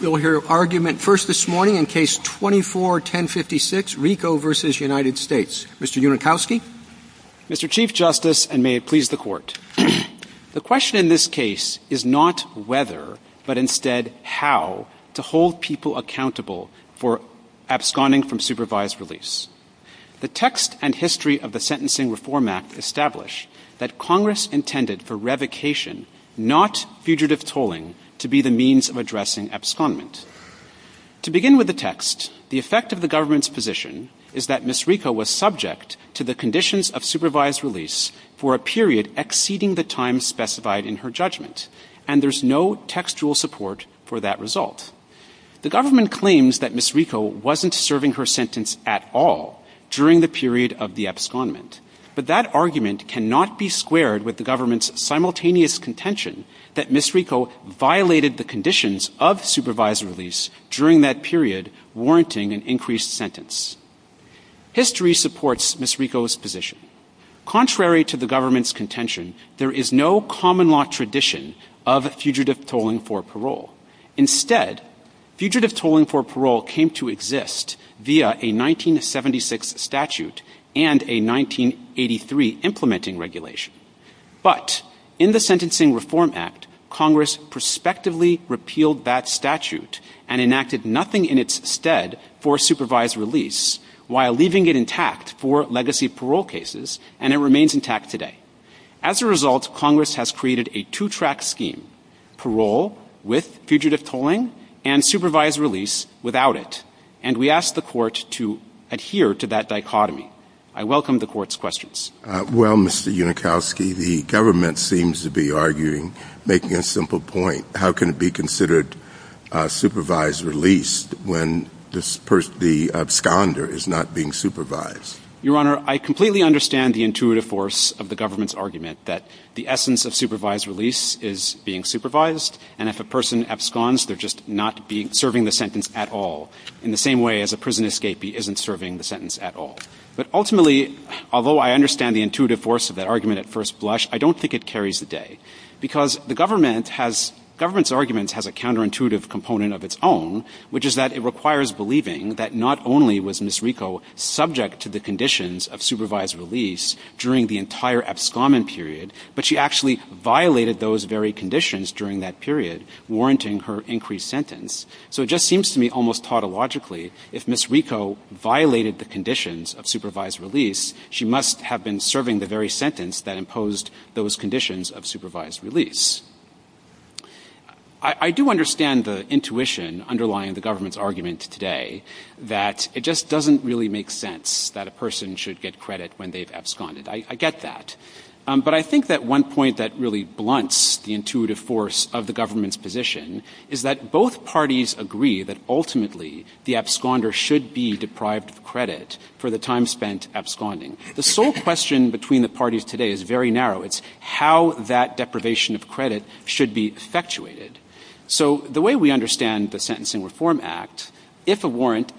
We'll hear argument first this morning in Case 24-1056, RICO v. United States. Mr. Unikowsky. Mr. Chief Justice, and may it please the Court, the question in this case is not whether but instead how to hold people accountable for absconding from supervised release. The text and history of the Sentencing Reform Act establish that Congress intended for revocation, not fugitive tolling, to be the means of addressing abscondment. To begin with the text, the effect of the government's position is that Ms. RICO was subject to the conditions of supervised release for a period exceeding the time specified in her judgment, and there's no textual support for that result. The government claims that Ms. RICO wasn't serving her sentence at all during the period of the abscondment. But that argument cannot be squared with the government's simultaneous contention that Ms. RICO violated the conditions of supervised release during that period, warranting an increased sentence. History supports Ms. RICO's position. Contrary to the government's contention, there is no common law tradition of fugitive tolling for parole. Instead, fugitive tolling for parole came to exist via a 1976 statute and a 1983 implementing regulation. But in the Sentencing Reform Act, Congress prospectively repealed that statute and enacted nothing in its stead for supervised release, while leaving it intact for legacy parole cases, and it remains intact today. As a result, Congress has created a two-track scheme, parole with fugitive tolling and supervised release without it. And we ask the Court to adhere to that dichotomy. I welcome the Court's questions. Well, Mr. Unikowski, the government seems to be arguing, making a simple point, how can it be considered supervised release when the absconder is not being supervised? Your Honor, I completely understand the intuitive force of the government's argument that the essence of supervised release is being supervised, and if a person absconds, they're just not serving the sentence at all, in the same way as a prison escapee isn't serving the sentence at all. But ultimately, although I understand the intuitive force of that argument at first blush, I don't think it carries the day. Because the government has – government's argument has a counterintuitive component of its own, which is that it requires believing that not only was Ms. RICO subject to the conditions of supervised release during the entire abscommon period, but she actually violated those very conditions during that period, warranting her increased sentence. So it just seems to me almost tautologically, if Ms. RICO violated the conditions of supervised release, she must have been serving the very sentence that imposed those conditions of supervised release. I do understand the intuition underlying the government's argument today, that it just doesn't really make sense that a person should get credit when they've absconded. I get that. But I think that one point that really blunts the intuitive force of the government's position is that both parties agree that ultimately the absconder should be deprived of credit for the time spent absconding. The sole question between the parties today is very narrow. It's how that deprivation of credit should be effectuated. So the way we understand the Sentencing Reform Act, if a warrant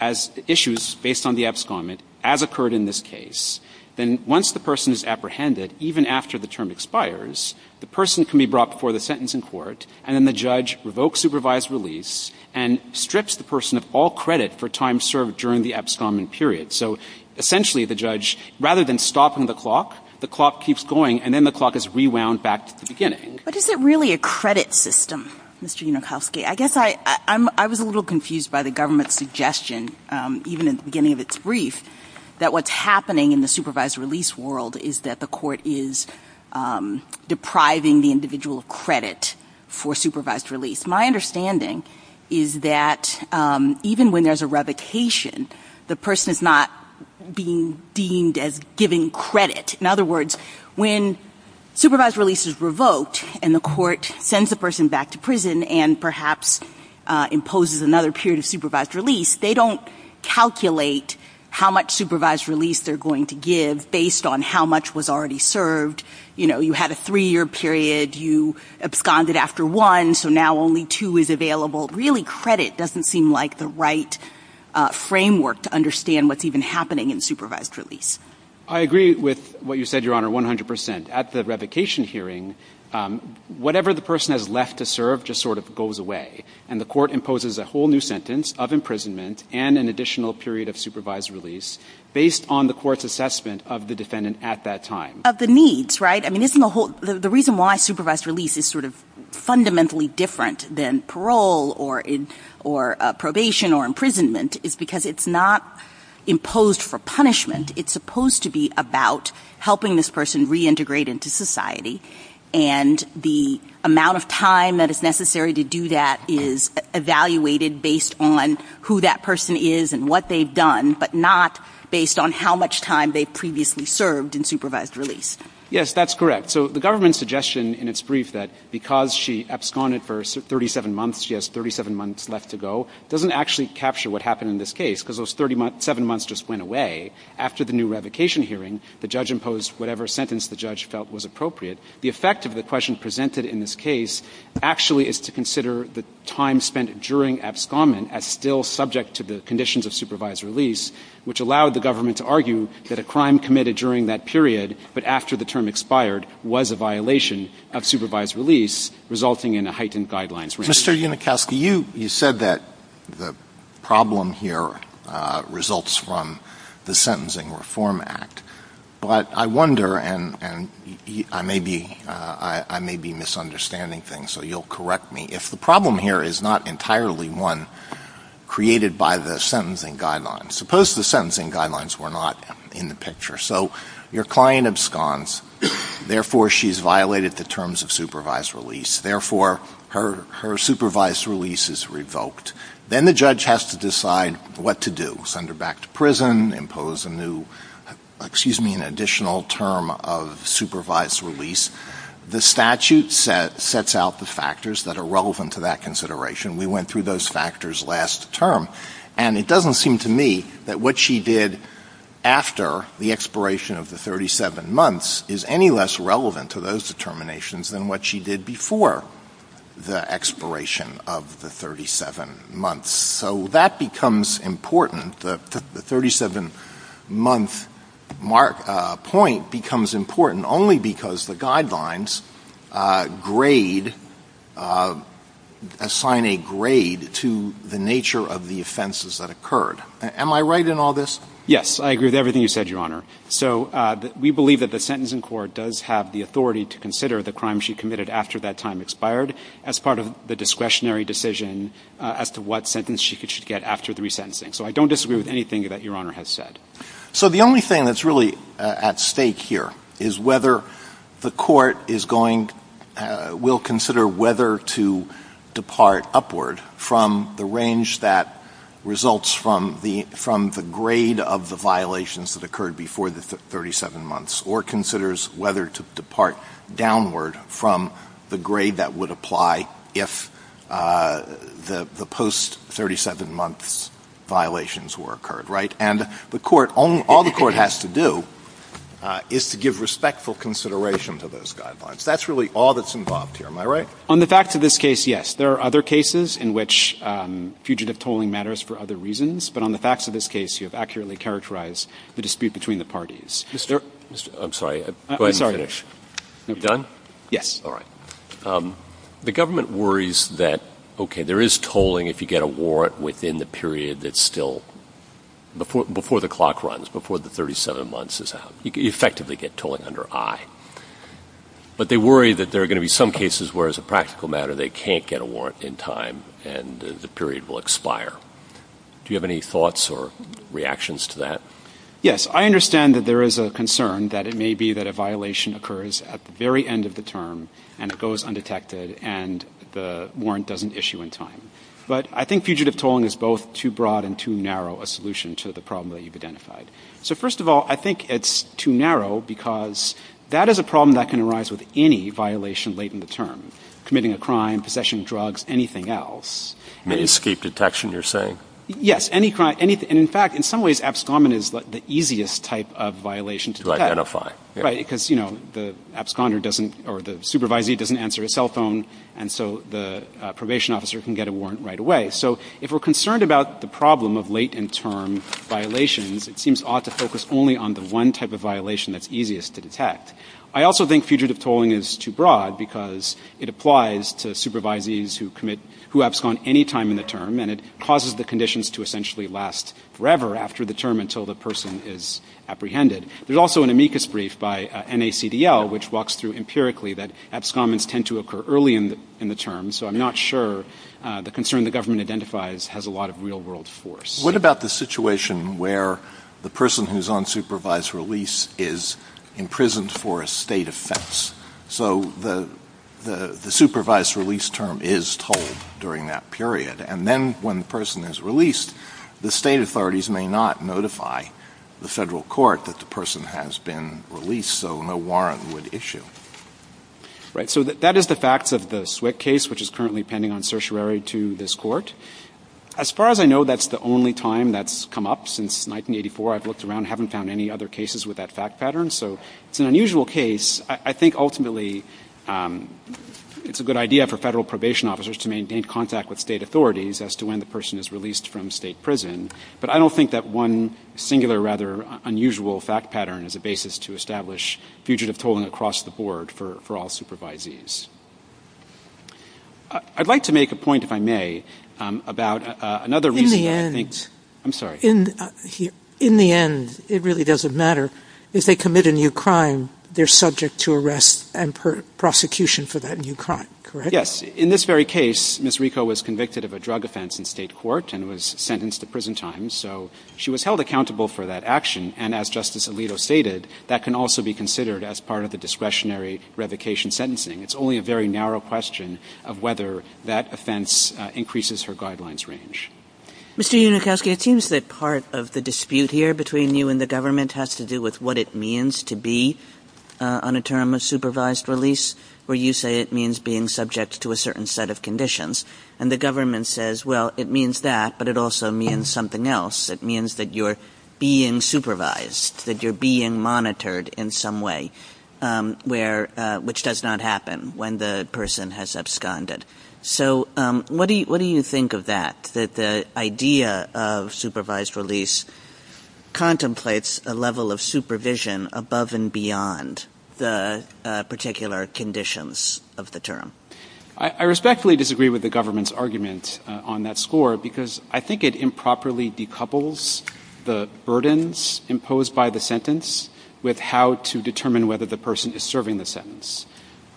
issues based on the abscondment, as occurred in this case, then once the person is apprehended, even after the term expires, the person can be brought before the sentencing court, and then the judge revokes supervised release and strips the person of all credit for time served during the abscondment period. So essentially, the judge, rather than stopping the clock, the clock keeps going, and then the clock is rewound back to the beginning. But is it really a credit system, Mr. Unokowski? I guess I was a little confused by the government's suggestion, even at the beginning of its brief, that what's happening in the supervised release world is that the court is depriving the individual of credit for supervised release. My understanding is that even when there's a revocation, the person is not being deemed as giving credit. In other words, when supervised release is revoked and the court sends the person back to prison and perhaps imposes another period of supervised release, they don't calculate how much supervised release they're going to give based on how much was already served. You know, you had a three-year period, you absconded after one, so now only two is available. Really, credit doesn't seem like the right framework to understand what's even happening in supervised release. I agree with what you said, Your Honor, 100 percent. At the revocation hearing, whatever the person has left to serve just sort of goes away, and the court imposes a whole new sentence of imprisonment and an additional period of supervised release based on the court's assessment of the defendant at that time. Of the needs, right? I mean, isn't the whole – the reason why supervised release is sort of fundamentally different than parole or probation or imprisonment is because it's not imposed for punishment. It's supposed to be about helping this person reintegrate into society, and the amount of time that is necessary to do that is evaluated based on who that person is and what they've done, but not based on how much time they previously served in supervised release. Yes, that's correct. So the government's suggestion in its brief that because she absconded for 37 months, she has 37 months left to go doesn't actually capture what happened in this case. 37 months just went away. After the new revocation hearing, the judge imposed whatever sentence the judge felt was appropriate. The effect of the question presented in this case actually is to consider the time spent during abscondment as still subject to the conditions of supervised release, which allowed the government to argue that a crime committed during that period but after the term expired was a violation of supervised release, resulting in a heightened guidelines. Mr. Unikowsky, you said that the problem here results from the Sentencing Reform Act, but I wonder, and I may be misunderstanding things, so you'll correct me, if the problem here is not entirely one created by the sentencing guidelines. Suppose the sentencing guidelines were not in the picture. So your client absconds, therefore she's violated the terms of supervised release. Therefore, her supervised release is revoked. Then the judge has to decide what to do, send her back to prison, impose a new — excuse me, an additional term of supervised release. The statute sets out the factors that are relevant to that consideration. We went through those factors last term. And it doesn't seem to me that what she did after the expiration of the 37 months is any less relevant to those determinations than what she did before the expiration of the 37 months. So that becomes important, the 37-month point becomes important only because the guidelines grade — assign a grade to the nature of the offenses that occurred. Am I right in all this? Yes. I agree with everything you said, Your Honor. So we believe that the sentencing court does have the authority to consider the crimes she committed after that time expired as part of the discretionary decision as to what sentence she should get after the resentencing. So I don't disagree with anything that Your Honor has said. So the only thing that's really at stake here is whether the court is going — will consider whether to depart upward from the range that results from the — from the 37 months or considers whether to depart downward from the grade that would apply if the — the post-37 months violations were occurred, right? And the court — all the court has to do is to give respectful consideration to those guidelines. That's really all that's involved here. Am I right? On the facts of this case, yes. There are other cases in which fugitive tolling matters for other reasons. But on the facts of this case, you have accurately characterized the dispute between the parties. Mr. — I'm sorry. Go ahead and finish. Done? Yes. All right. The government worries that, okay, there is tolling if you get a warrant within the period that's still — before the clock runs, before the 37 months is out. You effectively get tolling under I. But they worry that there are going to be some cases where, as a practical matter, they can't get a warrant in time and the period will expire. Do you have any thoughts or reactions to that? Yes. I understand that there is a concern that it may be that a violation occurs at the very end of the term and it goes undetected and the warrant doesn't issue in time. But I think fugitive tolling is both too broad and too narrow a solution to the problem that you've identified. So, first of all, I think it's too narrow because that is a problem that can arise with any violation late in the term — committing a crime, possessing drugs, anything else. Any escape detection, you're saying? Yes. And in fact, in some ways, absconding is the easiest type of violation to detect. Right, because, you know, the absconder doesn't — or the supervisee doesn't answer his cell phone, and so the probation officer can get a warrant right away. So if we're concerned about the problem of late-in-term violations, it seems odd to focus only on the one type of violation that's easiest to detect. I also think fugitive tolling is too broad because it applies to supervisees who abscond any time in the term, and it causes the conditions to essentially last forever after the term until the person is apprehended. There's also an amicus brief by NACDL which walks through empirically that abscondents tend to occur early in the term. So I'm not sure the concern the government identifies has a lot of real-world force. What about the situation where the person who's on supervised release is imprisoned for a state offense? So the supervised release term is tolled during that period, and then when the person is released, the state authorities may not notify the federal court that the person has been released, so no warrant would issue. Right. So that is the facts of the Swick case, which is currently pending on certiorari to this Court. As far as I know, that's the only time that's come up since 1984. I've looked around. I haven't found any other cases with that fact pattern. So it's an unusual case. I think ultimately it's a good idea for federal probation officers to maintain contact with state authorities as to when the person is released from state prison. But I don't think that one singular, rather unusual fact pattern is a basis to establish fugitive tolling across the board for all supervisees. I'd like to make a point, if I may, about another reason that I think... I'm sorry. In the end, it really doesn't matter. If they commit a new crime, they're subject to arrest and prosecution for that new crime, correct? In this very case, Ms. Rico was convicted of a drug offense in state court and was sentenced to prison time. So she was held accountable for that action. And as Justice Alito stated, that can also be considered as part of the discretionary revocation sentencing. It's only a very narrow question of whether that offense increases her guidelines range. Mr. Unikowski, it seems that part of the dispute here between you and the government has to do with what it means to be on a term of supervised release, where you say it means being subject to a certain set of conditions. And the government says, well, it means that, but it also means something else. It means that you're being supervised, that you're being monitored in some way, where, which does not happen when the person has absconded. So what do you think of that, that the idea of supervised release contemplates a level of supervision above and beyond the particular conditions of the term? I respectfully disagree with the government's argument on that score because I think it improperly decouples the burdens imposed by the sentence with how to determine whether the person is serving the sentence.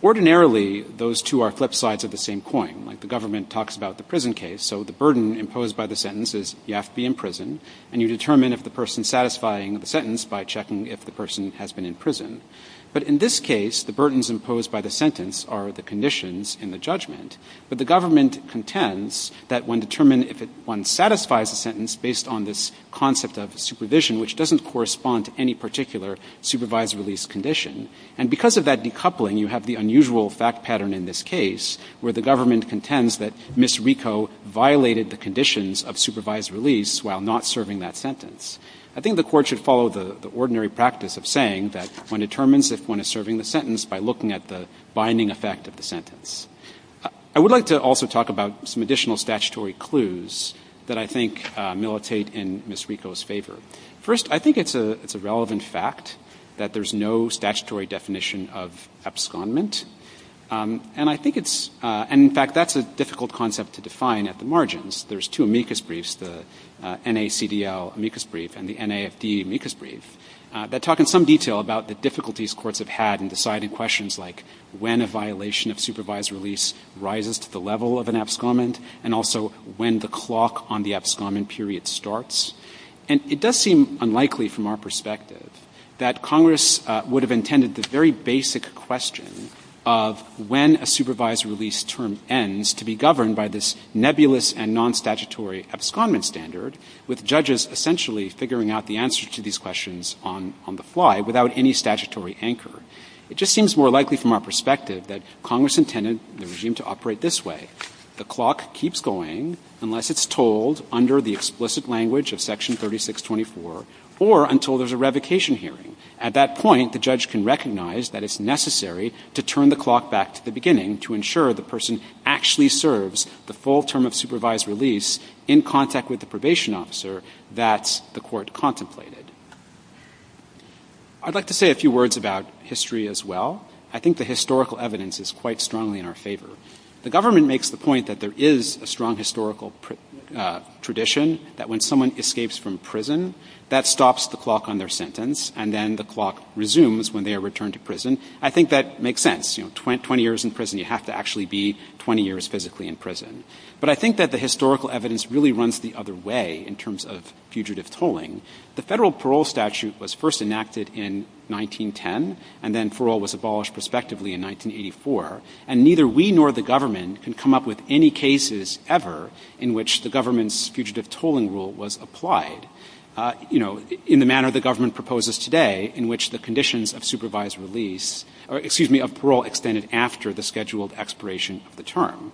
Ordinarily, those two are flip sides of the same coin. Like the government talks about the prison case. So the burden imposed by the sentence is you have to be in prison and you determine if the person satisfying the sentence by checking if the person has been in prison. But in this case, the burdens imposed by the sentence are the conditions in the judgment. But the government contends that when determined, if it, one satisfies the sentence based on this concept of supervision, which doesn't correspond to any particular supervised release condition. And because of that decoupling, you have the unusual fact pattern in this case, where the government contends that Ms. Rico violated the conditions of supervised release while not serving that sentence. I think the Court should follow the ordinary practice of saying that one determines if one is serving the sentence by looking at the binding effect of the sentence. I would like to also talk about some additional statutory clues that I think militate in Ms. Rico's favor. First, I think it's a relevant fact that there's no statutory definition of abscondment. And I think it's – and in fact, that's a difficult concept to define at the margins. There's two amicus briefs, the NACDL amicus brief and the NAFD amicus brief, that talk in some detail about the difficulties courts have had in deciding questions like when a violation of supervised release rises to the level of an abscondment and also when the clock on the abscondment period starts. And it does seem unlikely from our perspective that Congress would have intended the very basic question of when a supervised release term ends to be governed by this nebulous and non-statutory abscondment standard, with judges essentially figuring out the answer to these questions on the fly without any statutory anchor. It just seems more likely from our perspective that Congress intended the regime to operate this way. The clock keeps going unless it's told under the explicit language of Section 3624 or until there's a revocation hearing. At that point, the judge can recognize that it's necessary to turn the clock back to the beginning to ensure the person actually serves the full term of supervised release in contact with the probation officer that the court contemplated. I'd like to say a few words about history as well. I think the historical evidence is quite strongly in our favor. The government makes the point that there is a strong historical tradition that when someone escapes from prison, that stops the clock on their sentence and then the clock resumes when they are returned to prison. I think that makes sense. You know, 20 years in prison, you have to actually be 20 years physically in prison. But I think that the historical evidence really runs the other way in terms of fugitive tolling. The federal parole statute was first enacted in 1910, and then parole was abolished prospectively in 1984. And neither we nor the government can come up with any cases ever in which the government's fugitive tolling rule was applied, you know, in the manner the government proposes today, in which the conditions of supervised release, or excuse me, of parole extended after the scheduled expiration of the term.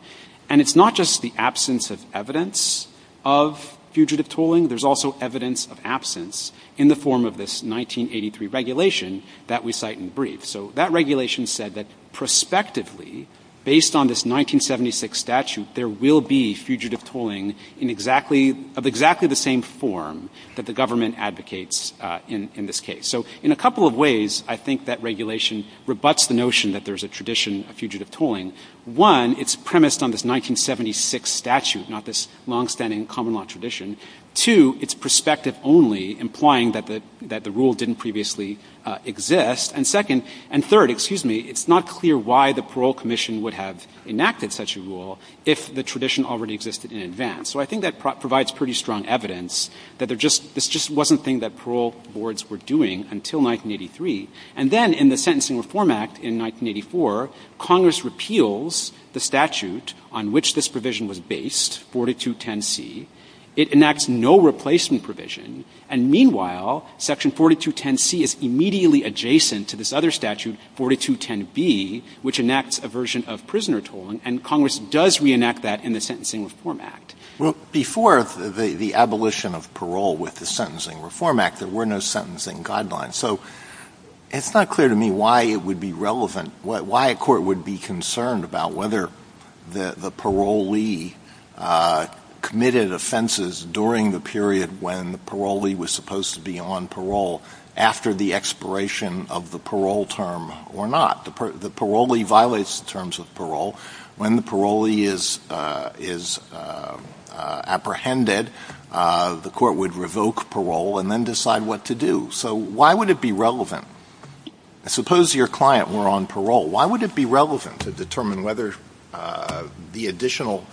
And it's not just the absence of evidence of fugitive tolling, there's also evidence of absence in the form of this 1983 regulation that we cite in the brief. So that regulation said that prospectively, based on this 1976 statute, there will be fugitive tolling in exactly, of exactly the same form that the government advocates in this case. So in a couple of ways, I think that regulation rebuts the notion that there's a tradition of fugitive tolling. One, it's premised on this 1976 statute, not this longstanding common law tradition. Two, it's prospective only, implying that the rule didn't previously exist. And second, and third, excuse me, it's not clear why the parole commission would have enacted such a rule if the tradition already existed in advance. So I think that provides pretty strong evidence that there just — this just wasn't a thing that parole boards were doing until 1983. And then in the Sentencing Reform Act in 1984, Congress repeals the statute on which this provision was based, 4210C. It enacts no replacement provision. And meanwhile, section 4210C is immediately adjacent to this other statute, 4210B, which enacts a version of prisoner tolling, and Congress does reenact that in the Sentencing Reform Act. Well, before the abolition of parole with the Sentencing Reform Act, there were no sentencing guidelines. So it's not clear to me why it would be relevant, why a court would be concerned about whether the parolee committed offenses during the period when the parolee was supposed to be on parole after the expiration of the parole term or not. The parolee violates the terms of parole. When the parolee is apprehended, the court would revoke parole and then decide what to do. So why would it be relevant? Suppose your client were on parole. Why would it be relevant to determine whether the additional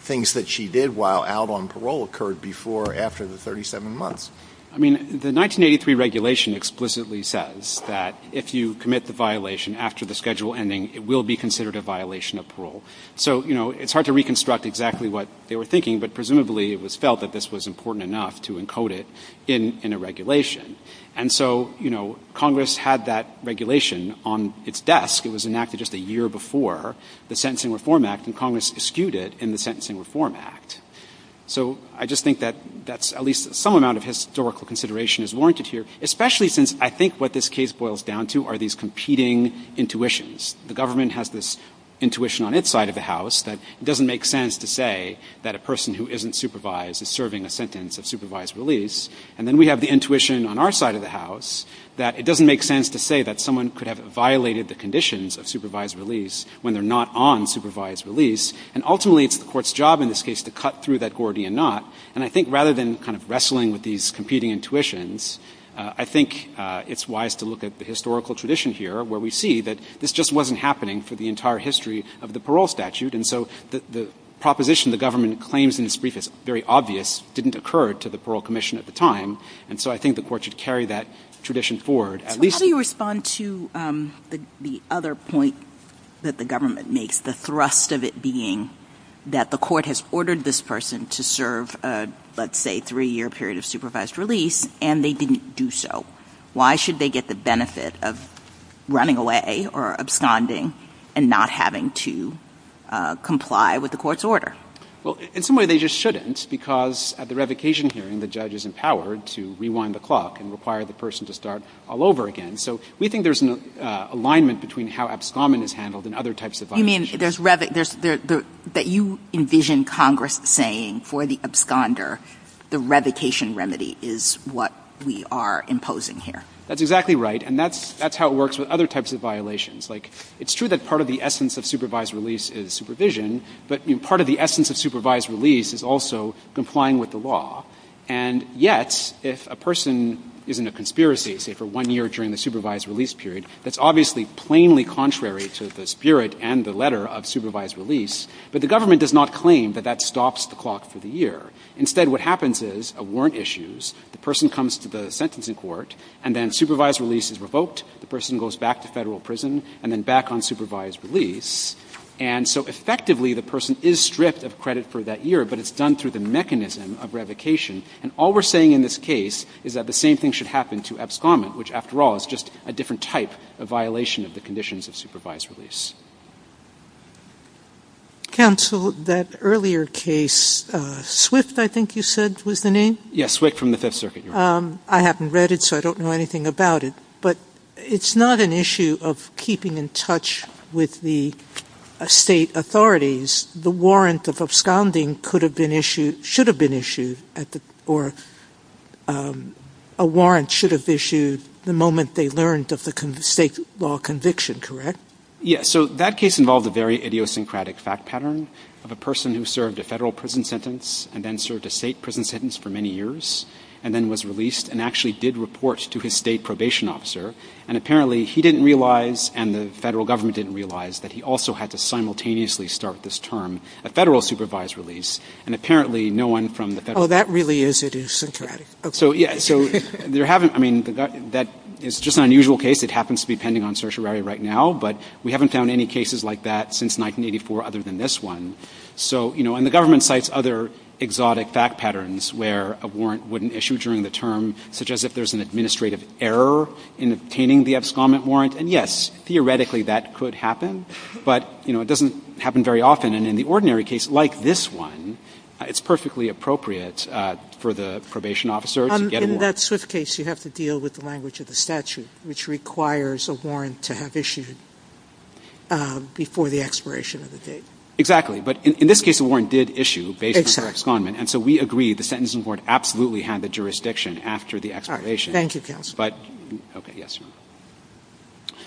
things that she did while out on parole occurred before or after the 37 months? I mean, the 1983 regulation explicitly says that if you commit the violation after the schedule ending, it will be considered a violation of parole. So, you know, it's hard to reconstruct exactly what they were thinking, but presumably it was felt that this was important enough to encode it in a regulation. And so, you know, Congress had that regulation on its desk. It was enacted just a year before the Sentencing Reform Act, and Congress eschewed it in the Sentencing Reform Act. So I just think that that's at least some amount of historical consideration is warranted here, especially since I think what this case boils down to are these competing intuitions. The government has this intuition on its side of the House that it doesn't make sense to say that a person who isn't supervised is serving a sentence of supervised release. And then we have the intuition on our side of the House that it doesn't make sense to say that someone could have violated the conditions of supervised release when they're not on supervised release. And ultimately, it's the Court's job in this case to cut through that Gordian knot. And I think rather than kind of wrestling with these competing intuitions, I think it's wise to look at the historical tradition here, where we see that this just wasn't happening for the entire history of the parole statute. And so the proposition the government claims in this brief is very obvious didn't occur to the Parole Commission at the time. And so I think the Court should carry that tradition forward, at least to that extent. The rest of it being that the Court has ordered this person to serve, let's say, three-year period of supervised release, and they didn't do so. Why should they get the benefit of running away or absconding and not having to comply with the Court's order? Well, in some way, they just shouldn't, because at the revocation hearing, the judge is empowered to rewind the clock and require the person to start all over again. So we think there's an alignment between how abscommon is handled and other types of violations. But, I mean, there's revocation, that you envision Congress saying for the absconder, the revocation remedy is what we are imposing here. That's exactly right, and that's how it works with other types of violations. Like, it's true that part of the essence of supervised release is supervision, but part of the essence of supervised release is also complying with the law. And yet, if a person is in a conspiracy, say, for one year during the supervised release period, that's obviously plainly contrary to the spirit and the letter of supervised release. But the government does not claim that that stops the clock for the year. Instead, what happens is a warrant issues, the person comes to the sentencing court, and then supervised release is revoked, the person goes back to Federal prison, and then back on supervised release. And so effectively, the person is stripped of credit for that year, but it's done through the mechanism of revocation. And all we're saying in this case is that the same thing should happen to abscommon, which, after all, is just a different type of violation of the conditions of supervised release. SOTOMAYOR. Counsel, that earlier case, Swift, I think you said was the name? Yes, Swift from the Fifth Circuit, Your Honor. I haven't read it, so I don't know anything about it. But it's not an issue of keeping in touch with the State authorities. The warrant of absconding could have been issued, should have been issued, or a warrant should have issued the moment they learned of the State law conviction, correct? Yes. So that case involved a very idiosyncratic fact pattern of a person who served a Federal prison sentence and then served a State prison sentence for many years, and then was released, and actually did report to his State probation officer. And apparently, he didn't realize, and the Federal government didn't realize, that he also had to simultaneously start this term, a Federal supervised release, and apparently, no one from the Federal. Oh, that really is idiosyncratic. So, yes, so there haven't been, I mean, that is just an unusual case. It happens to be pending on certiorari right now. But we haven't found any cases like that since 1984 other than this one. So, you know, and the government cites other exotic fact patterns where a warrant wouldn't issue during the term, such as if there's an administrative error in obtaining the abscond warrant, and yes, theoretically, that could happen, but, you know, it doesn't happen very often, and in the ordinary case, like this one, it's perfectly appropriate for the probation officer to get a warrant. In that swift case, you have to deal with the language of the statute, which requires a warrant to have issued before the expiration of the date. Exactly, but in this case, a warrant did issue based on the abscondment, and so we agree, the sentencing warrant absolutely had the jurisdiction after the expiration. All right, thank you, counsel. But, okay, yes, Your Honor.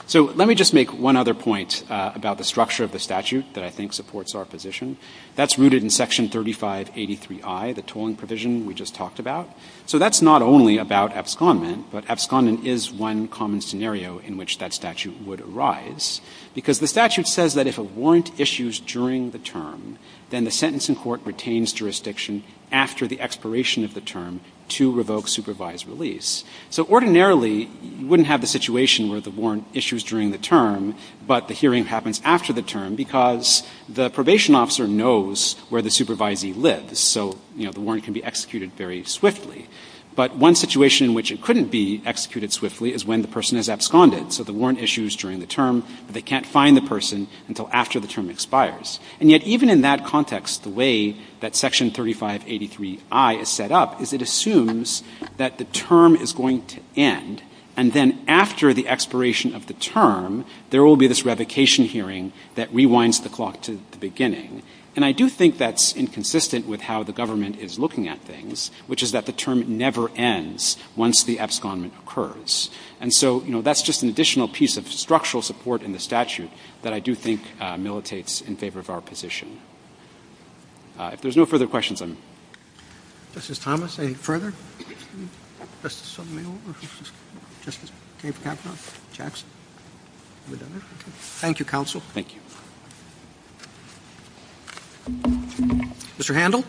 So let me just make one other point about the structure of the statute that I think supports our position. That's rooted in Section 3583I, the tolling provision we just talked about. So that's not only about abscondment, but abscondent is one common scenario in which that statute would arise, because the statute says that if a warrant issues during the term, then the sentencing court retains jurisdiction after the expiration of the term to revoke supervised release. So ordinarily, you wouldn't have the situation where the warrant issues during the term, but the hearing happens after the term because the probation officer knows where the supervisee lives. So, you know, the warrant can be executed very swiftly. But one situation in which it couldn't be executed swiftly is when the person has absconded. So the warrant issues during the term, but they can't find the person until after the term expires. And yet even in that context, the way that Section 3583I is set up is it assumes that the term is going to end, and then after the expiration of the term, there will be this revocation hearing that rewinds the clock to the beginning. And I do think that's inconsistent with how the government is looking at things, which is that the term never ends once the abscondment occurs. And so, you know, that's just an additional piece of structural support in the statute that I do think militates in favor of our position. If there's no further questions, I'm going to close. Justice Thomas, any further? Justice Sotomayor? Justice Kagan? Jackson? Thank you, counsel. Thank you. Mr. Handel?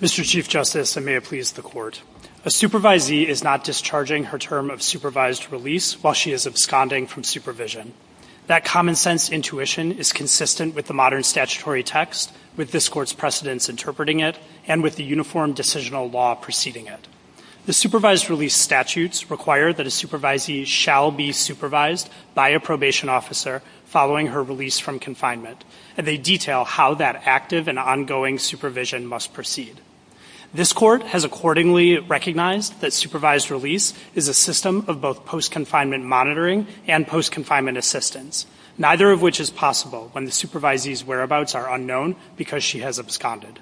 Mr. Chief Justice, and may it please the Court. A supervisee is not discharging her term of supervised release while she is absconding from supervision. That common-sense intuition is consistent with the modern statutory text, with this decisional law preceding it. The supervised release statutes require that a supervisee shall be supervised by a probation officer following her release from confinement, and they detail how that active and ongoing supervision must proceed. This Court has accordingly recognized that supervised release is a system of both post-confinement monitoring and post-confinement assistance, neither of which is possible when the supervisee's whereabouts are unknown because she has absconded.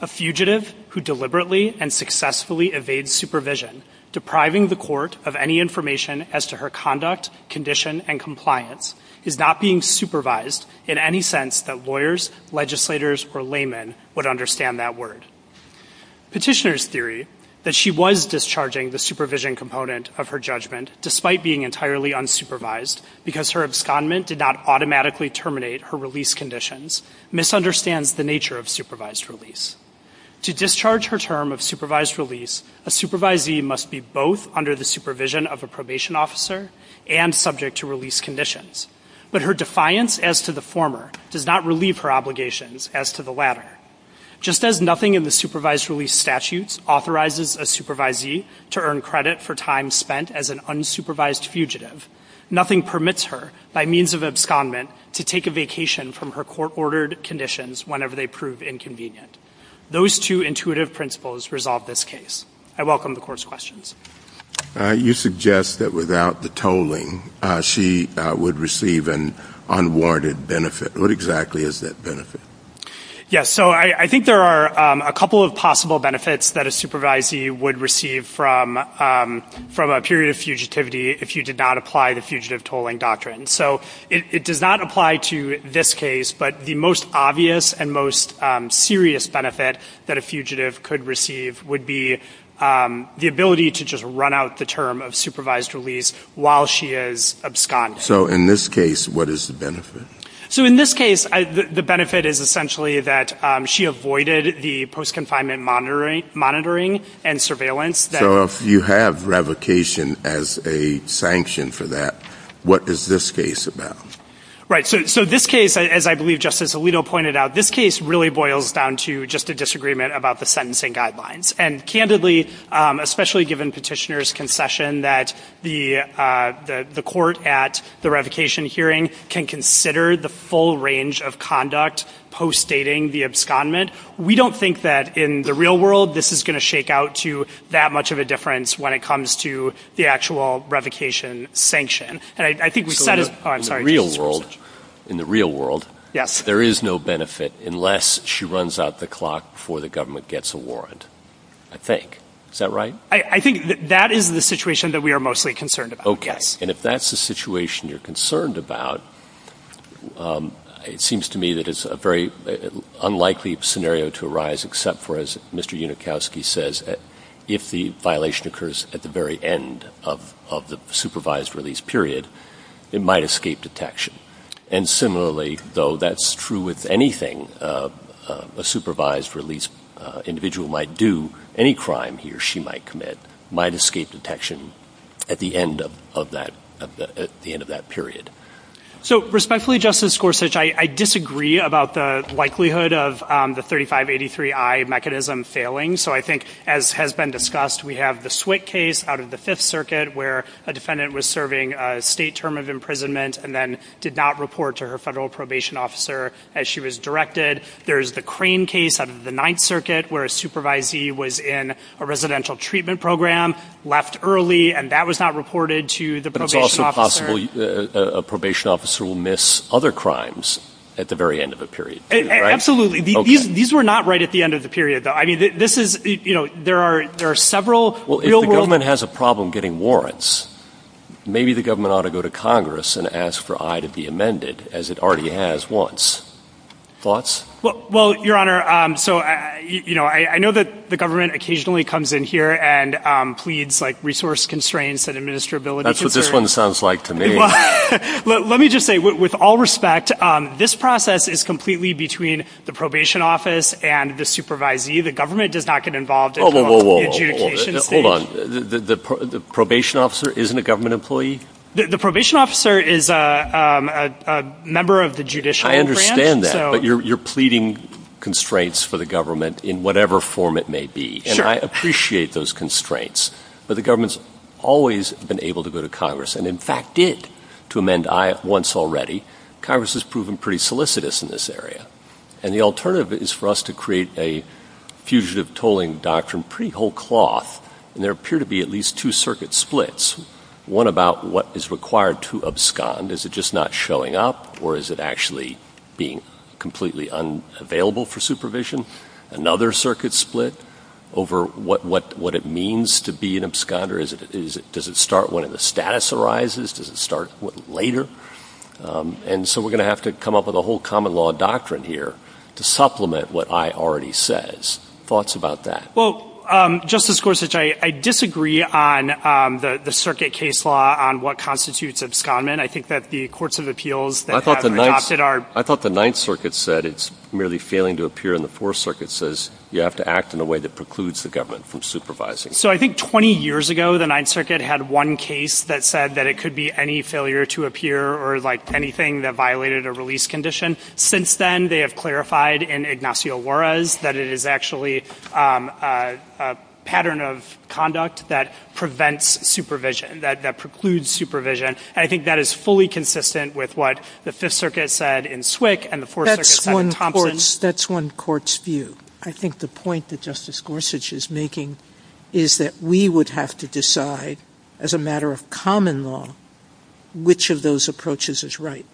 A fugitive who deliberately and successfully evades supervision, depriving the Court of any information as to her conduct, condition, and compliance, is not being supervised in any sense that lawyers, legislators, or laymen would understand that word. Petitioner's theory that she was discharging the supervision component of her judgment despite being entirely unsupervised because her abscondment did not automatically terminate her release conditions misunderstands the nature of supervised release. To discharge her term of supervised release, a supervisee must be both under the supervision of a probation officer and subject to release conditions, but her defiance as to the former does not relieve her obligations as to the latter. Just as nothing in the supervised release statutes authorizes a supervisee to earn credit for time spent as an unsupervised fugitive, nothing permits her, by means of abscondment, to take a vacation from her court-ordered conditions whenever they prove inconvenient. Those two intuitive principles resolve this case. I welcome the Court's questions. You suggest that without the tolling, she would receive an unwarranted benefit. What exactly is that benefit? Yes. So I think there are a couple of possible benefits that a supervisee would receive from a period of fugitivity if you did not apply the fugitive tolling doctrine. So it does not apply to this case, but the most obvious and most serious benefit that a fugitive could receive would be the ability to just run out the term of supervised release while she is absconding. So in this case, what is the benefit? So in this case, the benefit is essentially that she avoided the post-confinement monitoring and surveillance. So if you have revocation as a sanction for that, what is this case about? Right, so this case, as I believe Justice Alito pointed out, this case really boils down to just a disagreement about the sentencing guidelines. And candidly, especially given Petitioner's concession that the court at the revocation hearing can consider the full range of conduct post-dating the abscondment, we don't think that in the real world this is going to shake out to that much of a difference when it comes to the actual revocation sanction. And I think we said as— So in the real world, in the real world, there is no benefit unless she runs out the clock before the government gets a warrant, I think. Is that right? I think that is the situation that we are mostly concerned about, yes. Okay. And if that's the situation you're concerned about, it seems to me that it's a very unlikely scenario to arise except for, as Mr. Unikowski says, if the violation occurs at the very end of the supervised release period, it might escape detection. And similarly, though that's true with anything a supervised release individual might do, any crime he or she might commit might escape detection at the end of that period. So respectfully, Justice Gorsuch, I disagree about the likelihood of the 3583I mechanism failing. So I think, as has been discussed, we have the Swick case out of the Fifth Circuit where a defendant was serving a state term of imprisonment and then did not report to her federal probation officer as she was directed. There's the Crane case out of the Ninth Circuit where a supervisee was in a residential treatment program, left early, and that was not reported to the probation officer. It's also possible a probation officer will miss other crimes at the very end of a period. Absolutely. These were not right at the end of the period, though. I mean, this is, you know, there are several real-world... Well, if the government has a problem getting warrants, maybe the government ought to go to Congress and ask for I to be amended, as it already has once. Thoughts? Well, Your Honor, so, you know, I know that the government occasionally comes in here and pleads, like, resource constraints and administrability concerns. That's what this one sounds like to me. Let me just say, with all respect, this process is completely between the probation office and the supervisee. The government does not get involved at the adjudication stage. Whoa, whoa, whoa, hold on. The probation officer isn't a government employee? The probation officer is a member of the judicial branch. I understand that, but you're pleading constraints for the government in whatever form it may be, and I appreciate those constraints, but the government's always been able to go to Congress and, in fact, did to amend I once already. Congress has proven pretty solicitous in this area, and the alternative is for us to create a fugitive tolling doctrine pretty whole cloth, and there appear to be at least two circuit splits, one about what is required to abscond. Is it just not showing up, or is it actually being completely unavailable for supervision? Another circuit split over what it means to be an absconder? Does it start when the status arises? Does it start later? And so we're going to have to come up with a whole common law doctrine here to supplement what I already says. Thoughts about that? Well, Justice Gorsuch, I disagree on the circuit case law on what constitutes abscondment. I think that the courts of appeals that have adopted are— I thought the Ninth Circuit said it's merely failing to appear, and the Fourth Circuit says you have to act in a way that precludes the government from supervising. So I think 20 years ago, the Ninth Circuit had one case that said that it could be any failure to appear or, like, anything that violated a release condition. Since then, they have clarified in Ignacio Juarez that it is actually a pattern of conduct that prevents supervision, that precludes supervision, and I think that is consistent with what the Fifth Circuit said in Swick and the Fourth Circuit said in Thompson. That's one court's view. I think the point that Justice Gorsuch is making is that we would have to decide, as a matter of common law, which of those approaches is right.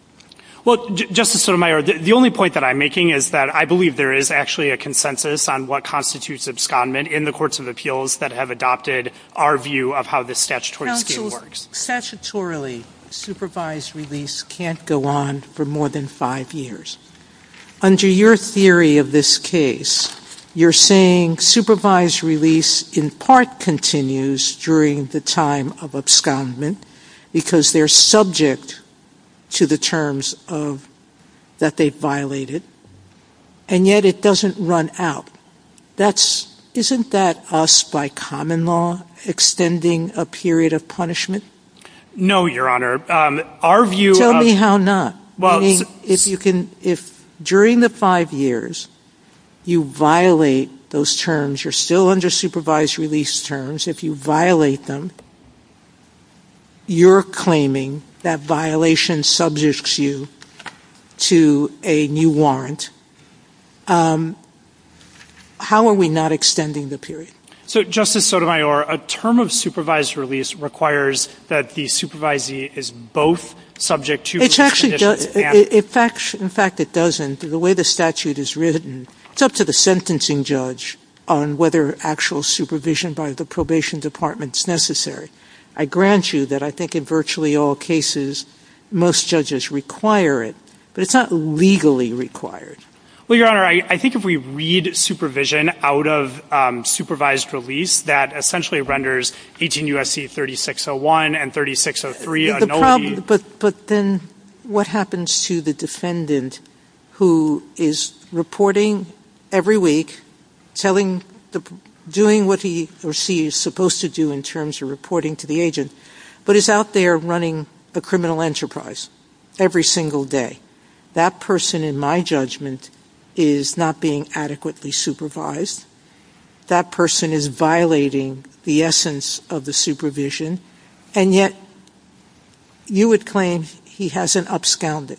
Well, Justice Sotomayor, the only point that I'm making is that I believe there is actually a consensus on what constitutes abscondment in the courts of appeals that have adopted our view of how this statutory scheme works. Statutorily, supervised release can't go on for more than five years. Under your theory of this case, you're saying supervised release in part continues during the time of abscondment because they're subject to the terms that they violated, and yet it doesn't run out. Isn't that us, by common law, extending a period of punishment? No, Your Honor. Our view of— Tell me how not. If during the five years you violate those terms, you're still under supervised release terms, if you violate them, you're claiming that violation subjects you to a new warrant. How are we not extending the period? So, Justice Sotomayor, a term of supervised release requires that the supervisee is both subject to— It actually doesn't. In fact, it doesn't. The way the statute is written, it's up to the sentencing judge on whether actual supervision by the probation department is necessary. I grant you that I think in virtually all cases, most judges require it, but it's not legally required. Well, Your Honor, I think if we read supervision out of supervised release, that essentially renders 18 U.S.C. 3601 and 3603 a nullity. But then what happens to the defendant who is reporting every week, doing what he or she is supposed to do in terms of reporting to the agent, but is out there running a criminal enterprise every single day? That person, in my judgment, is not being adequately supervised. That person is violating the essence of the supervision, and yet you would claim he hasn't upscaled it.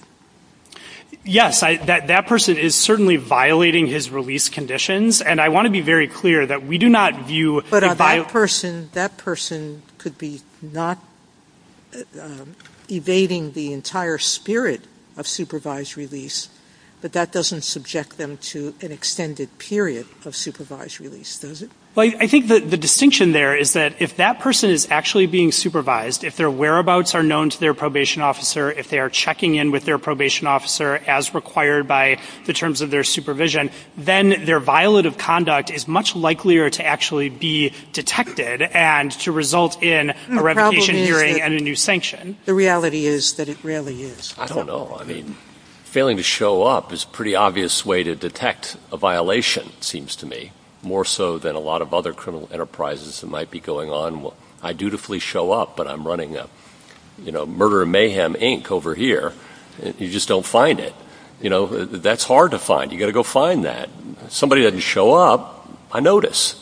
Yes, that person is certainly violating his release conditions, and I want to be very clear that we do not view— But that person could be not evading the entire spirit of supervised release, but that doesn't subject them to an extended period of supervised release, does it? Well, I think the distinction there is that if that person is actually being supervised, if their whereabouts are known to their probation officer, if they are checking in with their probation officer as required by the terms of their supervision, then their violative conduct is much likelier to actually be detected and to result in a revocation hearing and a new sanction. The reality is that it really is. I don't know. I mean, failing to show up is a pretty obvious way to detect a violation, it seems to me, more so than a lot of other criminal enterprises that might be going on. I dutifully show up, but I'm running a, you know, Murder and Mayhem Inc. over here. You just don't find it. You know, that's hard to find. You've got to go find that. Somebody doesn't show up, I notice.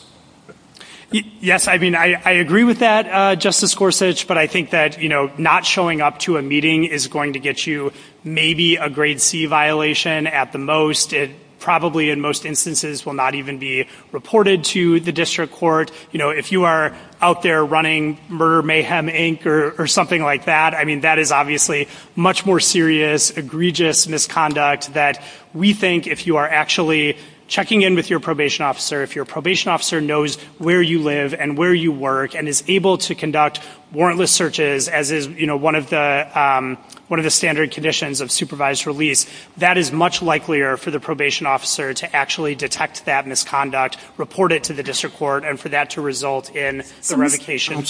Yes, I mean, I agree with that, Justice Gorsuch, but I think that, you know, not showing up to a meeting is going to get you maybe a grade C violation at the most. It probably, in most instances, will not even be reported to the district court. You know, if you are out there running Murder Mayhem Inc. or something like that, I mean, that is obviously much more serious, egregious misconduct that we think if you are actually checking in with your probation officer, if your probation officer knows where you live and where you work and is able to conduct warrantless searches, as is, you know, one of the standard conditions of supervised release, that is much likelier for the probation officer to actually detect that misconduct, report it to the district court, and for that to result in the revocation.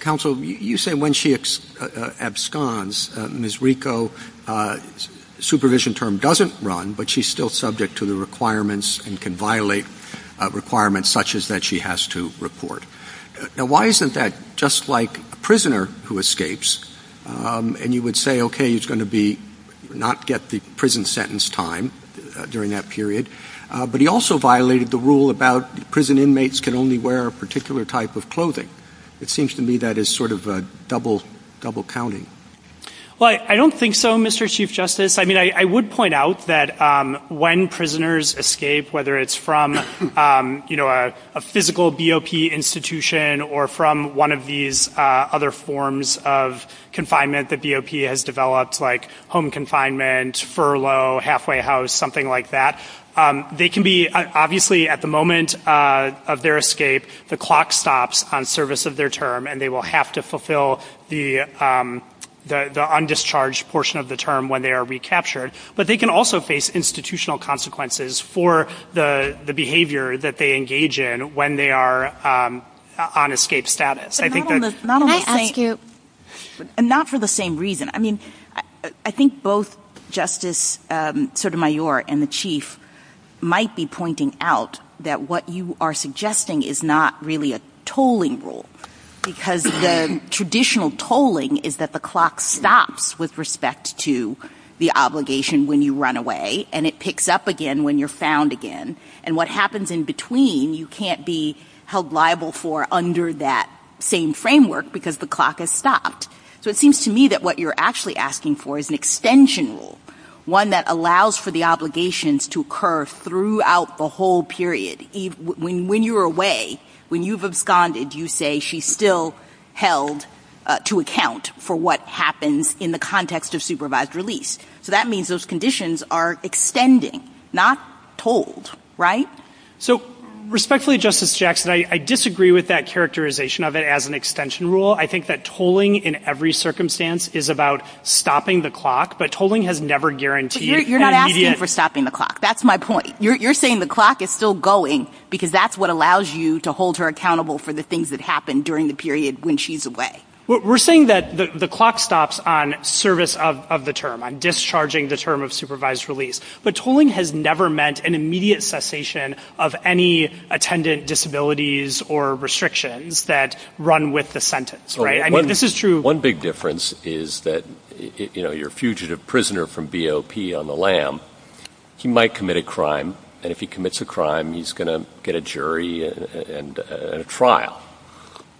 Counsel, you say when she absconds, Ms. Rico's supervision term doesn't run, but she is still subject to the requirements and can violate requirements such as that she has to report. Now, why isn't that just like a prisoner who escapes, and you would say, okay, he is going to not get the prison sentence time during that period, but he also violated the rule about prison inmates can only wear a particular type of clothing. It seems to me that is sort of a double counting. Well, I don't think so, Mr. Chief Justice. I mean, I would point out that when prisoners escape, whether it's from, you know, a physical BOP institution or from one of these other forms of confinement that BOP has developed, like home confinement, furlough, halfway house, something like that, they can be, obviously, at the moment of their escape, the clock stops on service of their term, and they will have to fulfill the undischarged portion of the term when they are recaptured, but they can also face institutional consequences for the behavior that they engage in when they are on escape status. Can I ask you? Not for the same reason. I mean, I think both Justice Sotomayor and the Chief might be pointing out that what you are suggesting is not really a tolling rule, because the traditional tolling is that the clock stops with respect to the obligation when you run away, and it picks up again when you're found again, and what happens in between, you can't be liable for under that same framework because the clock has stopped. So it seems to me that what you're actually asking for is an extension rule, one that allows for the obligations to occur throughout the whole period. When you're away, when you've absconded, you say she's still held to account for what happens in the context of supervised release. So that means those conditions are extending, not told, right? So, respectfully, Justice Jackson, I disagree with that characterization of it as an extension rule. I think that tolling in every circumstance is about stopping the clock, but tolling has never guaranteed an immediate— You're not asking for stopping the clock. That's my point. You're saying the clock is still going because that's what allows you to hold her accountable for the things that happen during the period when she's away. We're saying that the clock stops on service of the term, on discharging the term of supervised release, but tolling has never meant an immediate cessation of any attendant disabilities or restrictions that run with the sentence, right? I mean, this is true— One big difference is that, you know, your fugitive prisoner from BOP on the lam, he might commit a crime, and if he commits a crime, he's going to get a jury and a trial,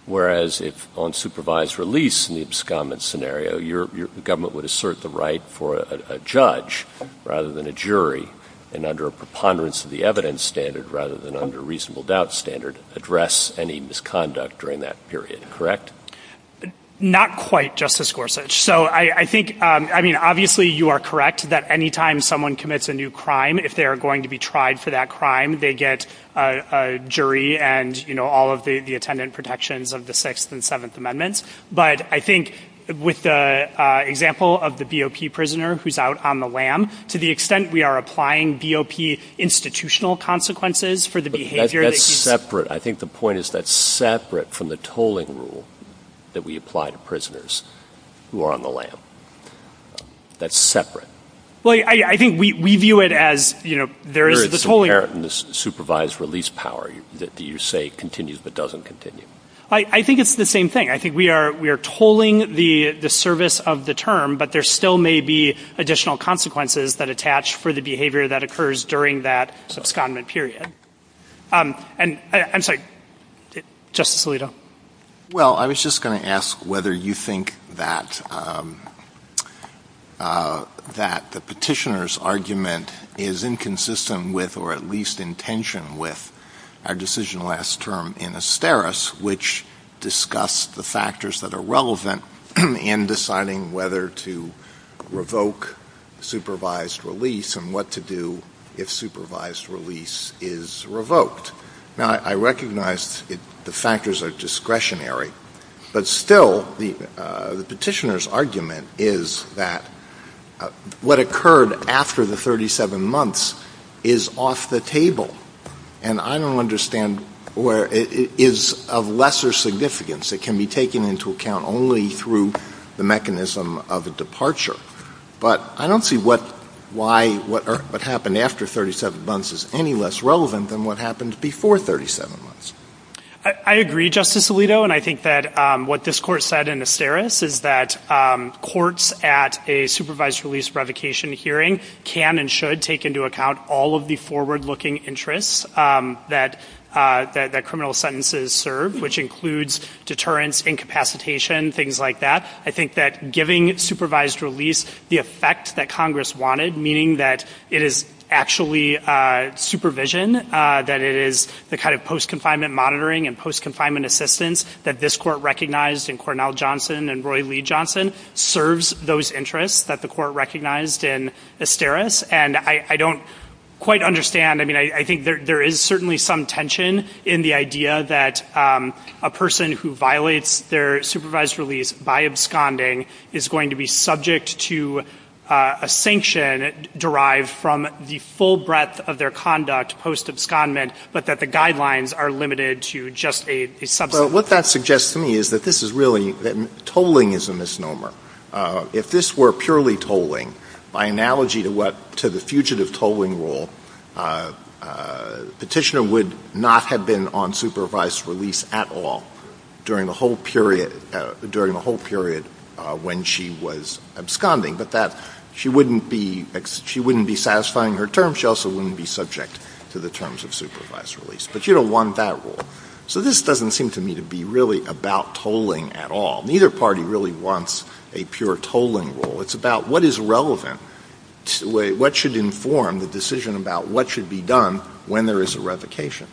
whereas if on supervised release in the absconded scenario, your government would assert the right for a judge rather than a jury, and under a preponderance of the evidence standard rather than under a reasonable doubt standard, address any misconduct during that period, correct? Not quite, Justice Gorsuch. So I think — I mean, obviously, you are correct that any time someone commits a new crime, if they are going to be tried for that crime, they get a jury and, you know, all of the attendant protections of the Sixth and Seventh who's out on the lam, to the extent we are applying BOP institutional consequences for the behavior that he's— But that's separate. I think the point is that's separate from the tolling rule that we apply to prisoners who are on the lam. That's separate. Well, I think we view it as, you know, there is the tolling— Here it's inherent in the supervised release power that you say continues but doesn't continue. I think it's the same thing. I think we are tolling the service of the term, but there still may be additional consequences that attach for the behavior that occurs during that subscondent period. And I'm sorry. Justice Alito? Well, I was just going to ask whether you think that the petitioner's argument is inconsistent with or at least in tension with our decision last term in Asteris, which discussed the factors that are relevant in deciding whether to revoke supervised release and what to do if supervised release is revoked. Now, I recognize the factors are discretionary, but still the petitioner's argument is that what occurred after the 37 months is off the table. And I don't understand where it is of lesser significance. It can be taken into account only through the mechanism of a departure. But I don't see why what happened after 37 months is any less relevant than what happened before 37 months. I agree, Justice Alito, and I think that what this Court said in Asteris is that courts at a supervised release revocation hearing can and should take into account all of the forward-looking interests that criminal sentences serve, which includes deterrence, incapacitation, things like that. I think that giving supervised release the effect that Congress wanted, meaning that it is actually supervision, that it is the kind of post-confinement monitoring and post-confinement assistance that this Court recognized in Cornell Johnson and Roy Lee Johnson serves those interests that the Court recognized in Asteris. And I don't quite understand. I mean, I think there is certainly some tension in the idea that a person who violates their supervised release by absconding is going to be subject to a sanction derived from the full breadth of their conduct post-abscondment, but that the guidelines are limited to just a subsequent. What that suggests to me is that this is really, that tolling is a misnomer. If this were purely tolling, by analogy to what, to the fugitive tolling rule, Petitioner would not have been on supervised release at all during the whole period, during the whole period when she was absconding, but that she wouldn't be, she wouldn't be satisfying her terms. She also wouldn't be subject to the terms of supervised release. She wouldn't be really about tolling at all. Neither party really wants a pure tolling rule. It's about what is relevant, what should inform the decision about what should be done when there is a revocation.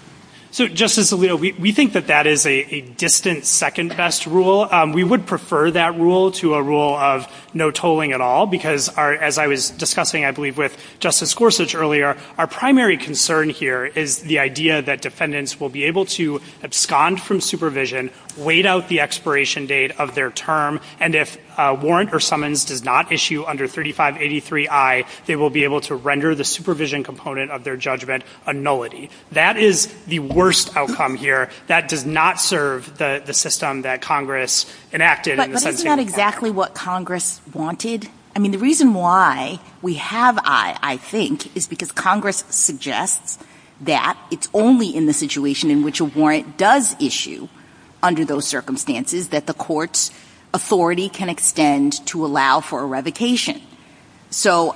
So, Justice Alito, we think that that is a distant second-best rule. We would prefer that rule to a rule of no tolling at all because, as I was discussing, I believe, with Justice Gorsuch earlier, our primary concern here is the idea that defendants will be able to abscond from supervision, wait out the expiration date of their term, and if a warrant or summons does not issue under 3583I, they will be able to render the supervision component of their judgment a nullity. That is the worst outcome here. That does not serve the system that Congress enacted in the sentencing. But isn't that exactly what Congress wanted? I mean, the reason why we have I, I think, is because Congress suggests that it's only in the situation in which a warrant does issue under those circumstances that the court's authority can extend to allow for a revocation. So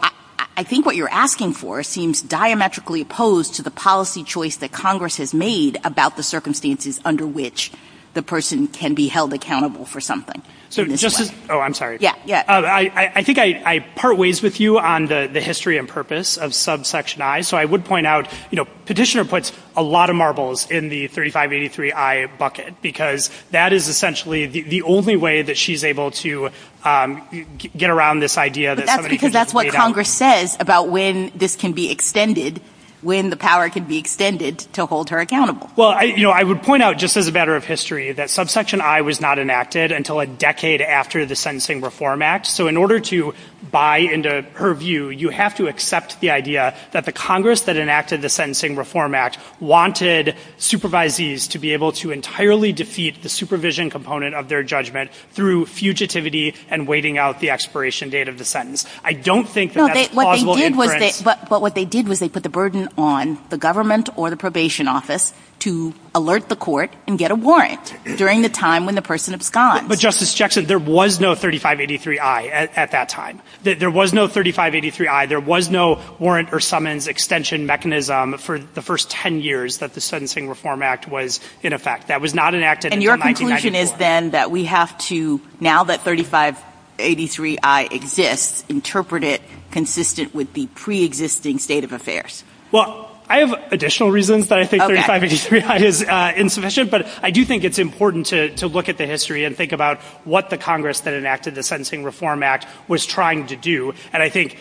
I think what you're asking for seems diametrically opposed to the policy choice that Congress has made about the circumstances under which the person can be held accountable for something. Oh, I'm sorry. Yeah, yeah. I think I part ways with you on the history and purpose of subsection I. So I would point out, you know, Petitioner puts a lot of marbles in the 3583I bucket because that is essentially the only way that she's able to get around this idea that somebody can wait out. But that's because that's what Congress says about when this can be extended, when the power can be extended to hold her accountable. Well, you know, I would point out, just as a matter of history, that subsection I was not enacted until a decade after the Sentencing Reform Act. So in order to buy into her view, you have to accept the idea that the Congress that enacted the Sentencing Reform Act wanted supervisees to be able to entirely defeat the supervision component of their judgment through fugitivity and waiting out the expiration date of the sentence. I don't think that that's a plausible inference. But what they did was they put the burden on the government or the probation office to alert the court and get a warrant during the time when the person absconds. But Justice Jackson, there was no 3583I at that time. There was no 3583I. There was no warrant or summons extension mechanism for the first 10 years that the Sentencing Reform Act was in effect. That was not enacted until 1994. And your conclusion is then that we have to, now that 3583I exists, interpret it consistent with the preexisting state of affairs? Well, I have additional reasons that I think 3583I is insufficient. But I do think it's important to look at the history and think about what the Congress that enacted the Sentencing Reform Act was trying to do. And I think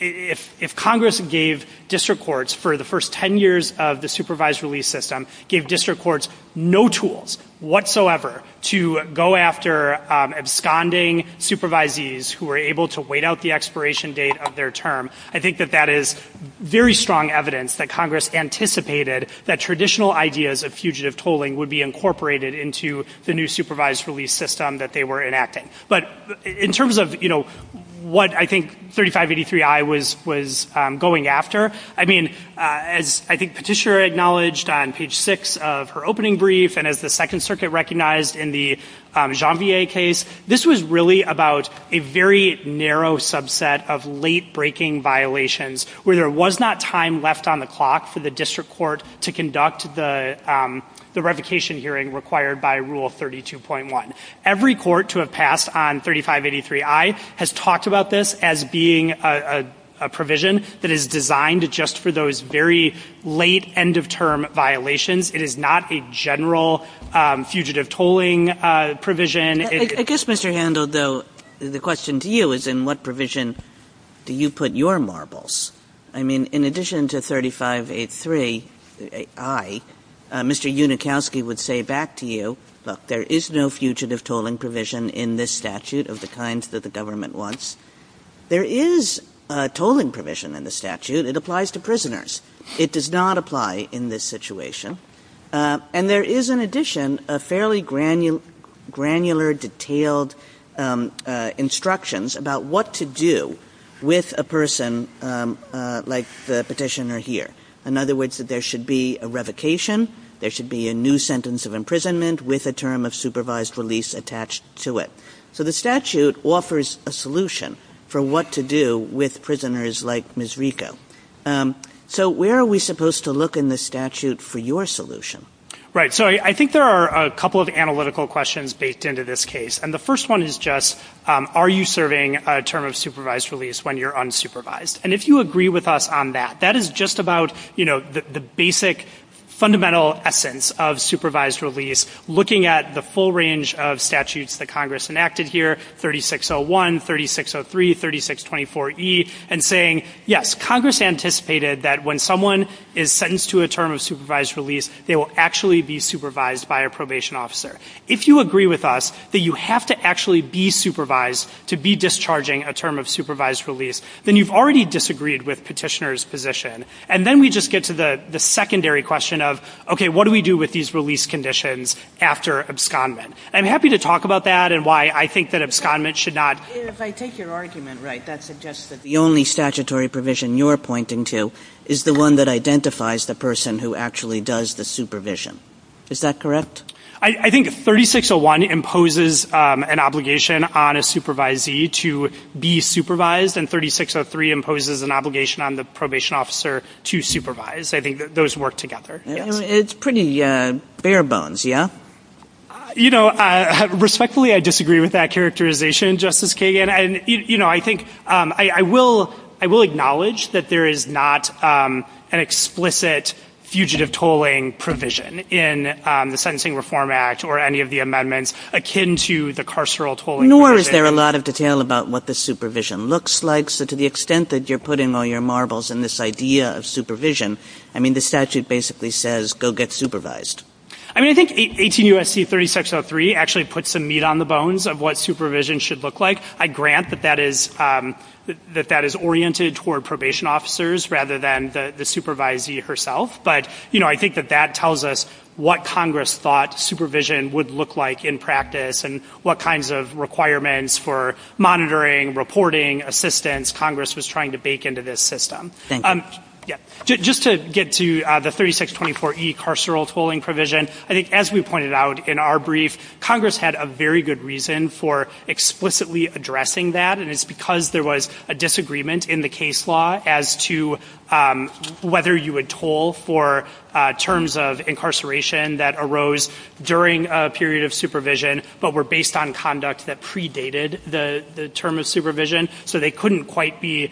if Congress gave district courts, for the first 10 years of the supervised release system, gave district courts no tools whatsoever to go after absconding supervisees who were able to wait out the expiration date of their term, I think that that is very strong evidence that Congress anticipated that traditional ideas of fugitive tolling would be incorporated into the new supervised release system that they were enacting. But in terms of, you know, what I think 3583I was going after, I mean, as I think Patricia acknowledged on page 6 of her opening brief and as the Second Circuit recognized in the where there was not time left on the clock for the district court to conduct the revocation hearing required by Rule 32.1. Every court to have passed on 3583I has talked about this as being a provision that is designed just for those very late, end-of-term violations. It is not a general fugitive tolling provision. I guess, Mr. Handel, though, the question to you is in what provision do you put your marbles? I mean, in addition to 3583I, Mr. Unikowsky would say back to you, look, there is no fugitive tolling provision in this statute of the kinds that the government wants. There is a tolling provision in the statute. It applies to prisoners. It does not apply in this situation. And there is, in addition, a fairly granular, detailed instructions about what to do with a person like the petitioner here. In other words, that there should be a revocation, there should be a new sentence of imprisonment with a term of supervised release attached to it. So the statute offers a solution for what to do with prisoners like Ms. Rico. So where are we supposed to look in the statute for your solution? Right. So I think there are a couple of analytical questions based into this case. And the first one is just, are you serving a term of supervised release when you're unsupervised? And if you agree with us on that, that is just about, you know, the basic fundamental essence of supervised release, looking at the full range of statutes that Congress enacted here, 3601, 3603, 3624E, and saying, yes, Congress anticipated that when someone is sentenced to a term of supervised release, they will actually be supervised by a probation officer. If you agree with us that you have to actually be supervised to be discharging a term of supervised release, then you've already disagreed with petitioner's position. And then we just get to the secondary question of, okay, what do we do with these release conditions after abscondment? I'm happy to talk about that and why I think that abscondment should not If I take your argument right, that suggests that the only statutory provision you're pointing to is the one that identifies the person who actually does the supervision. Is that correct? I think 3601 imposes an obligation on a supervisee to be supervised, and 3603 imposes an obligation on the probation officer to supervise. I think those work together. It's pretty bare bones, yeah? You know, respectfully, I disagree with that characterization, Justice Kagan. And, you know, I think I will acknowledge that there is not an explicit fugitive tolling provision in the Sentencing Reform Act or any of the amendments akin to the carceral tolling provision. Nor is there a lot of detail about what the supervision looks like. So to the extent that you're putting all your marbles in this idea of supervision, I mean, the statute basically says, go get supervised. I mean, I think 18 U.S.C. 3603 actually puts some meat on the bones of what supervision should look like. I grant that that is oriented toward probation officers rather than the supervisee herself. But, you know, I think that that tells us what Congress thought supervision would look like in practice and what kinds of requirements for monitoring, reporting, assistance Congress was trying to bake into this system. Thank you. Yeah. Just to get to the 3624E carceral tolling provision, I think, as we pointed out in our brief, Congress had a very good reason for explicitly addressing that, and it's because there was a disagreement in the case law as to whether you would toll for terms of incarceration that arose during a period of supervision but were based on conduct that predated the term of supervision. So they couldn't quite be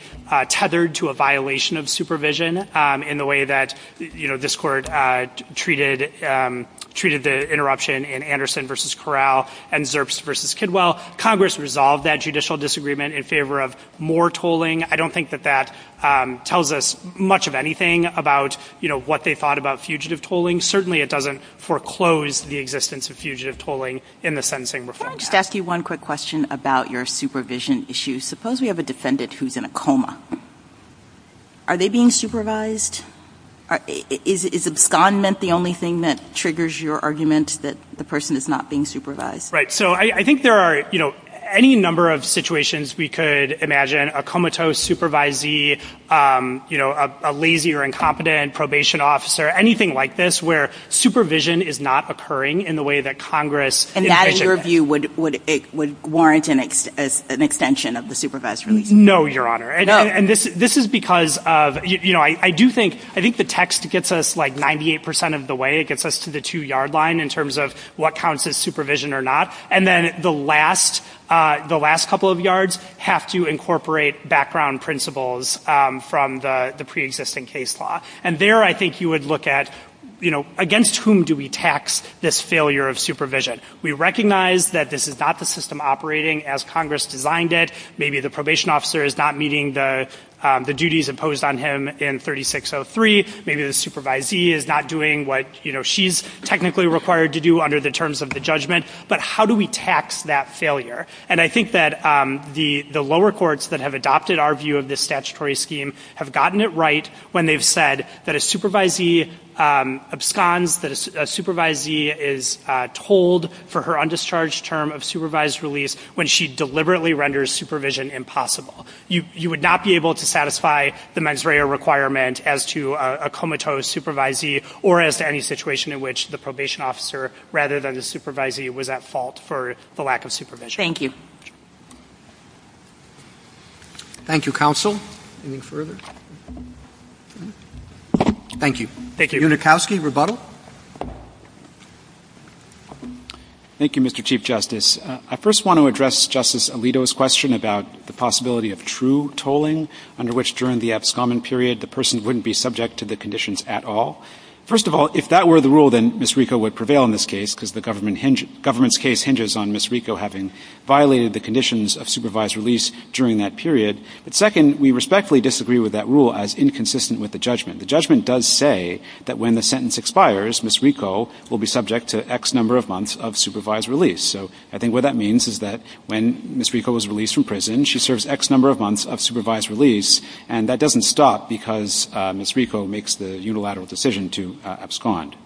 tethered to a violation of supervision in the way that, you know, this Court treated the interruption in Anderson v. Corral and Zerps v. Kidwell. Congress resolved that judicial disagreement in favor of more tolling. I don't think that that tells us much of anything about, you know, what they thought about fugitive tolling. Certainly it doesn't foreclose the existence of fugitive tolling in the sentencing reform. Can I just ask you one quick question about your supervision issue? Suppose we have a defendant who's in a coma. Are they being supervised? Is abscondment the only thing that triggers your argument that the person is not being supervised? Right. So I think there are, you know, any number of situations we could imagine, a comatose supervisee, you know, a lazy or incompetent probation officer, anything like this where supervision is not occurring in the way that Congress envisioned. And that, in your view, would warrant an extension of the supervised release? No, Your Honor. And this is because of, you know, I do think, I think the text gets us like 98 percent of the way. It gets us to the two-yard line in terms of what counts as supervision or not. And then the last, the last couple of yards have to incorporate background principles from the preexisting case law. And there I think you would look at, you know, against whom do we tax this failure of supervision? We recognize that this is not the system operating as Congress designed it. Maybe the probation officer is not meeting the duties imposed on him in 3603. Maybe the supervisee is not doing what, you know, she's technically required to do under the terms of the judgment. But how do we tax that failure? And I think that the lower courts that have adopted our view of this statutory scheme have gotten it right when they've said that a supervisee absconds, that a supervisee is told for her undischarged term of supervised release when she deliberately renders supervision impossible. You would not be able to satisfy the mens rea requirement as to a comatose supervisee or as to any situation in which the probation officer, rather than the supervisee, was at fault for the lack of supervision. Thank you. Thank you, counsel. Anything further? Thank you. Thank you. Unikowsky, rebuttal. Thank you, Mr. Chief Justice. I first want to address Justice Alito's question about the possibility of true tolling, under which during the abscommon period the person wouldn't be subject to the conditions at all. First of all, if that were the rule, then Ms. Rico would prevail in this case because the government's case hinges on Ms. Rico having violated the conditions of supervised release during that period. But second, we respectfully disagree with that rule as inconsistent with the judgment. The judgment does say that when the sentence expires, Ms. Rico will be subject to X number of months of supervised release. So I think what that means is that when Ms. Rico was released from prison, she serves X number of months of supervised release, and that doesn't stop because Ms. Rico makes the unilateral decision to abscond.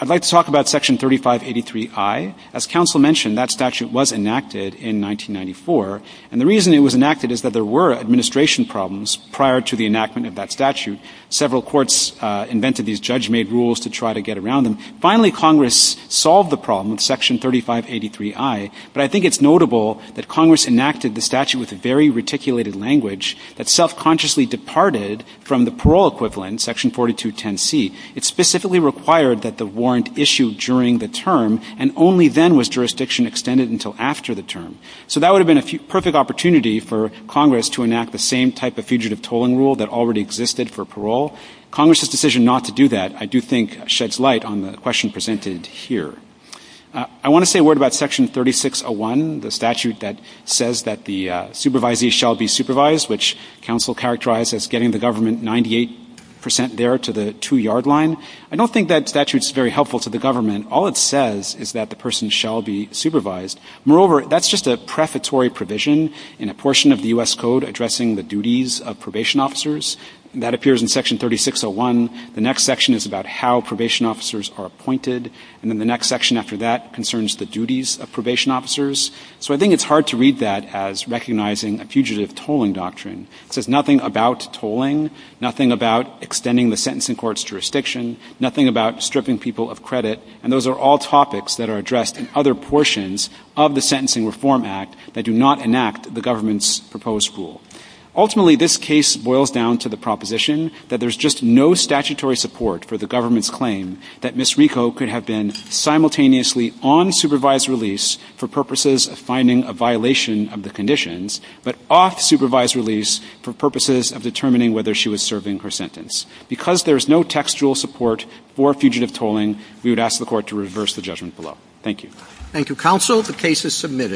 I'd like to talk about Section 3583I. As counsel mentioned, that statute was enacted in 1994, and the reason it was enacted is that there were administration problems prior to the enactment of that statute. Several courts invented these judge-made rules to try to get around them. Finally, Congress solved the problem with Section 3583I, but I think it's notable that Congress enacted the statute with a very reticulated language that self-consciously departed from the parole equivalent, Section 4210C. It specifically required that the warrant issue during the term, and only then was jurisdiction extended until after the term. So that would have been a perfect opportunity for Congress to enact the same type of fugitive tolling rule that already existed for parole. Congress' decision not to do that, I do think, sheds light on the question presented here. I want to say a word about Section 3601, the statute that says that the supervisee shall be supervised, which counsel characterized as getting the government 98 percent there to the two-yard line. I don't think that statute's very helpful to the government. All it says is that the person shall be supervised. Moreover, that's just a prefatory provision in a portion of the U.S. Code addressing the duties of probation officers. That appears in Section 3601. The next section is about how probation officers are appointed, and then the next section after that concerns the duties of probation officers. So I think it's hard to read that as recognizing a fugitive tolling doctrine. It says nothing about tolling, nothing about extending the sentencing court's jurisdiction, nothing about stripping people of credit. And those are all topics that are addressed in other portions of the Sentencing Reform Act that do not enact the government's proposed rule. Ultimately, this case boils down to the proposition that there's just no statutory support for the government's claim that Ms. Rico could have been simultaneously on supervised release for purposes of finding a violation of the conditions, but off supervised release for purposes of determining whether she was serving her sentence. Because there is no textual support for fugitive tolling, we would ask the Court to reverse the judgment below. Thank you. Roberts. Thank you, counsel. The case is submitted.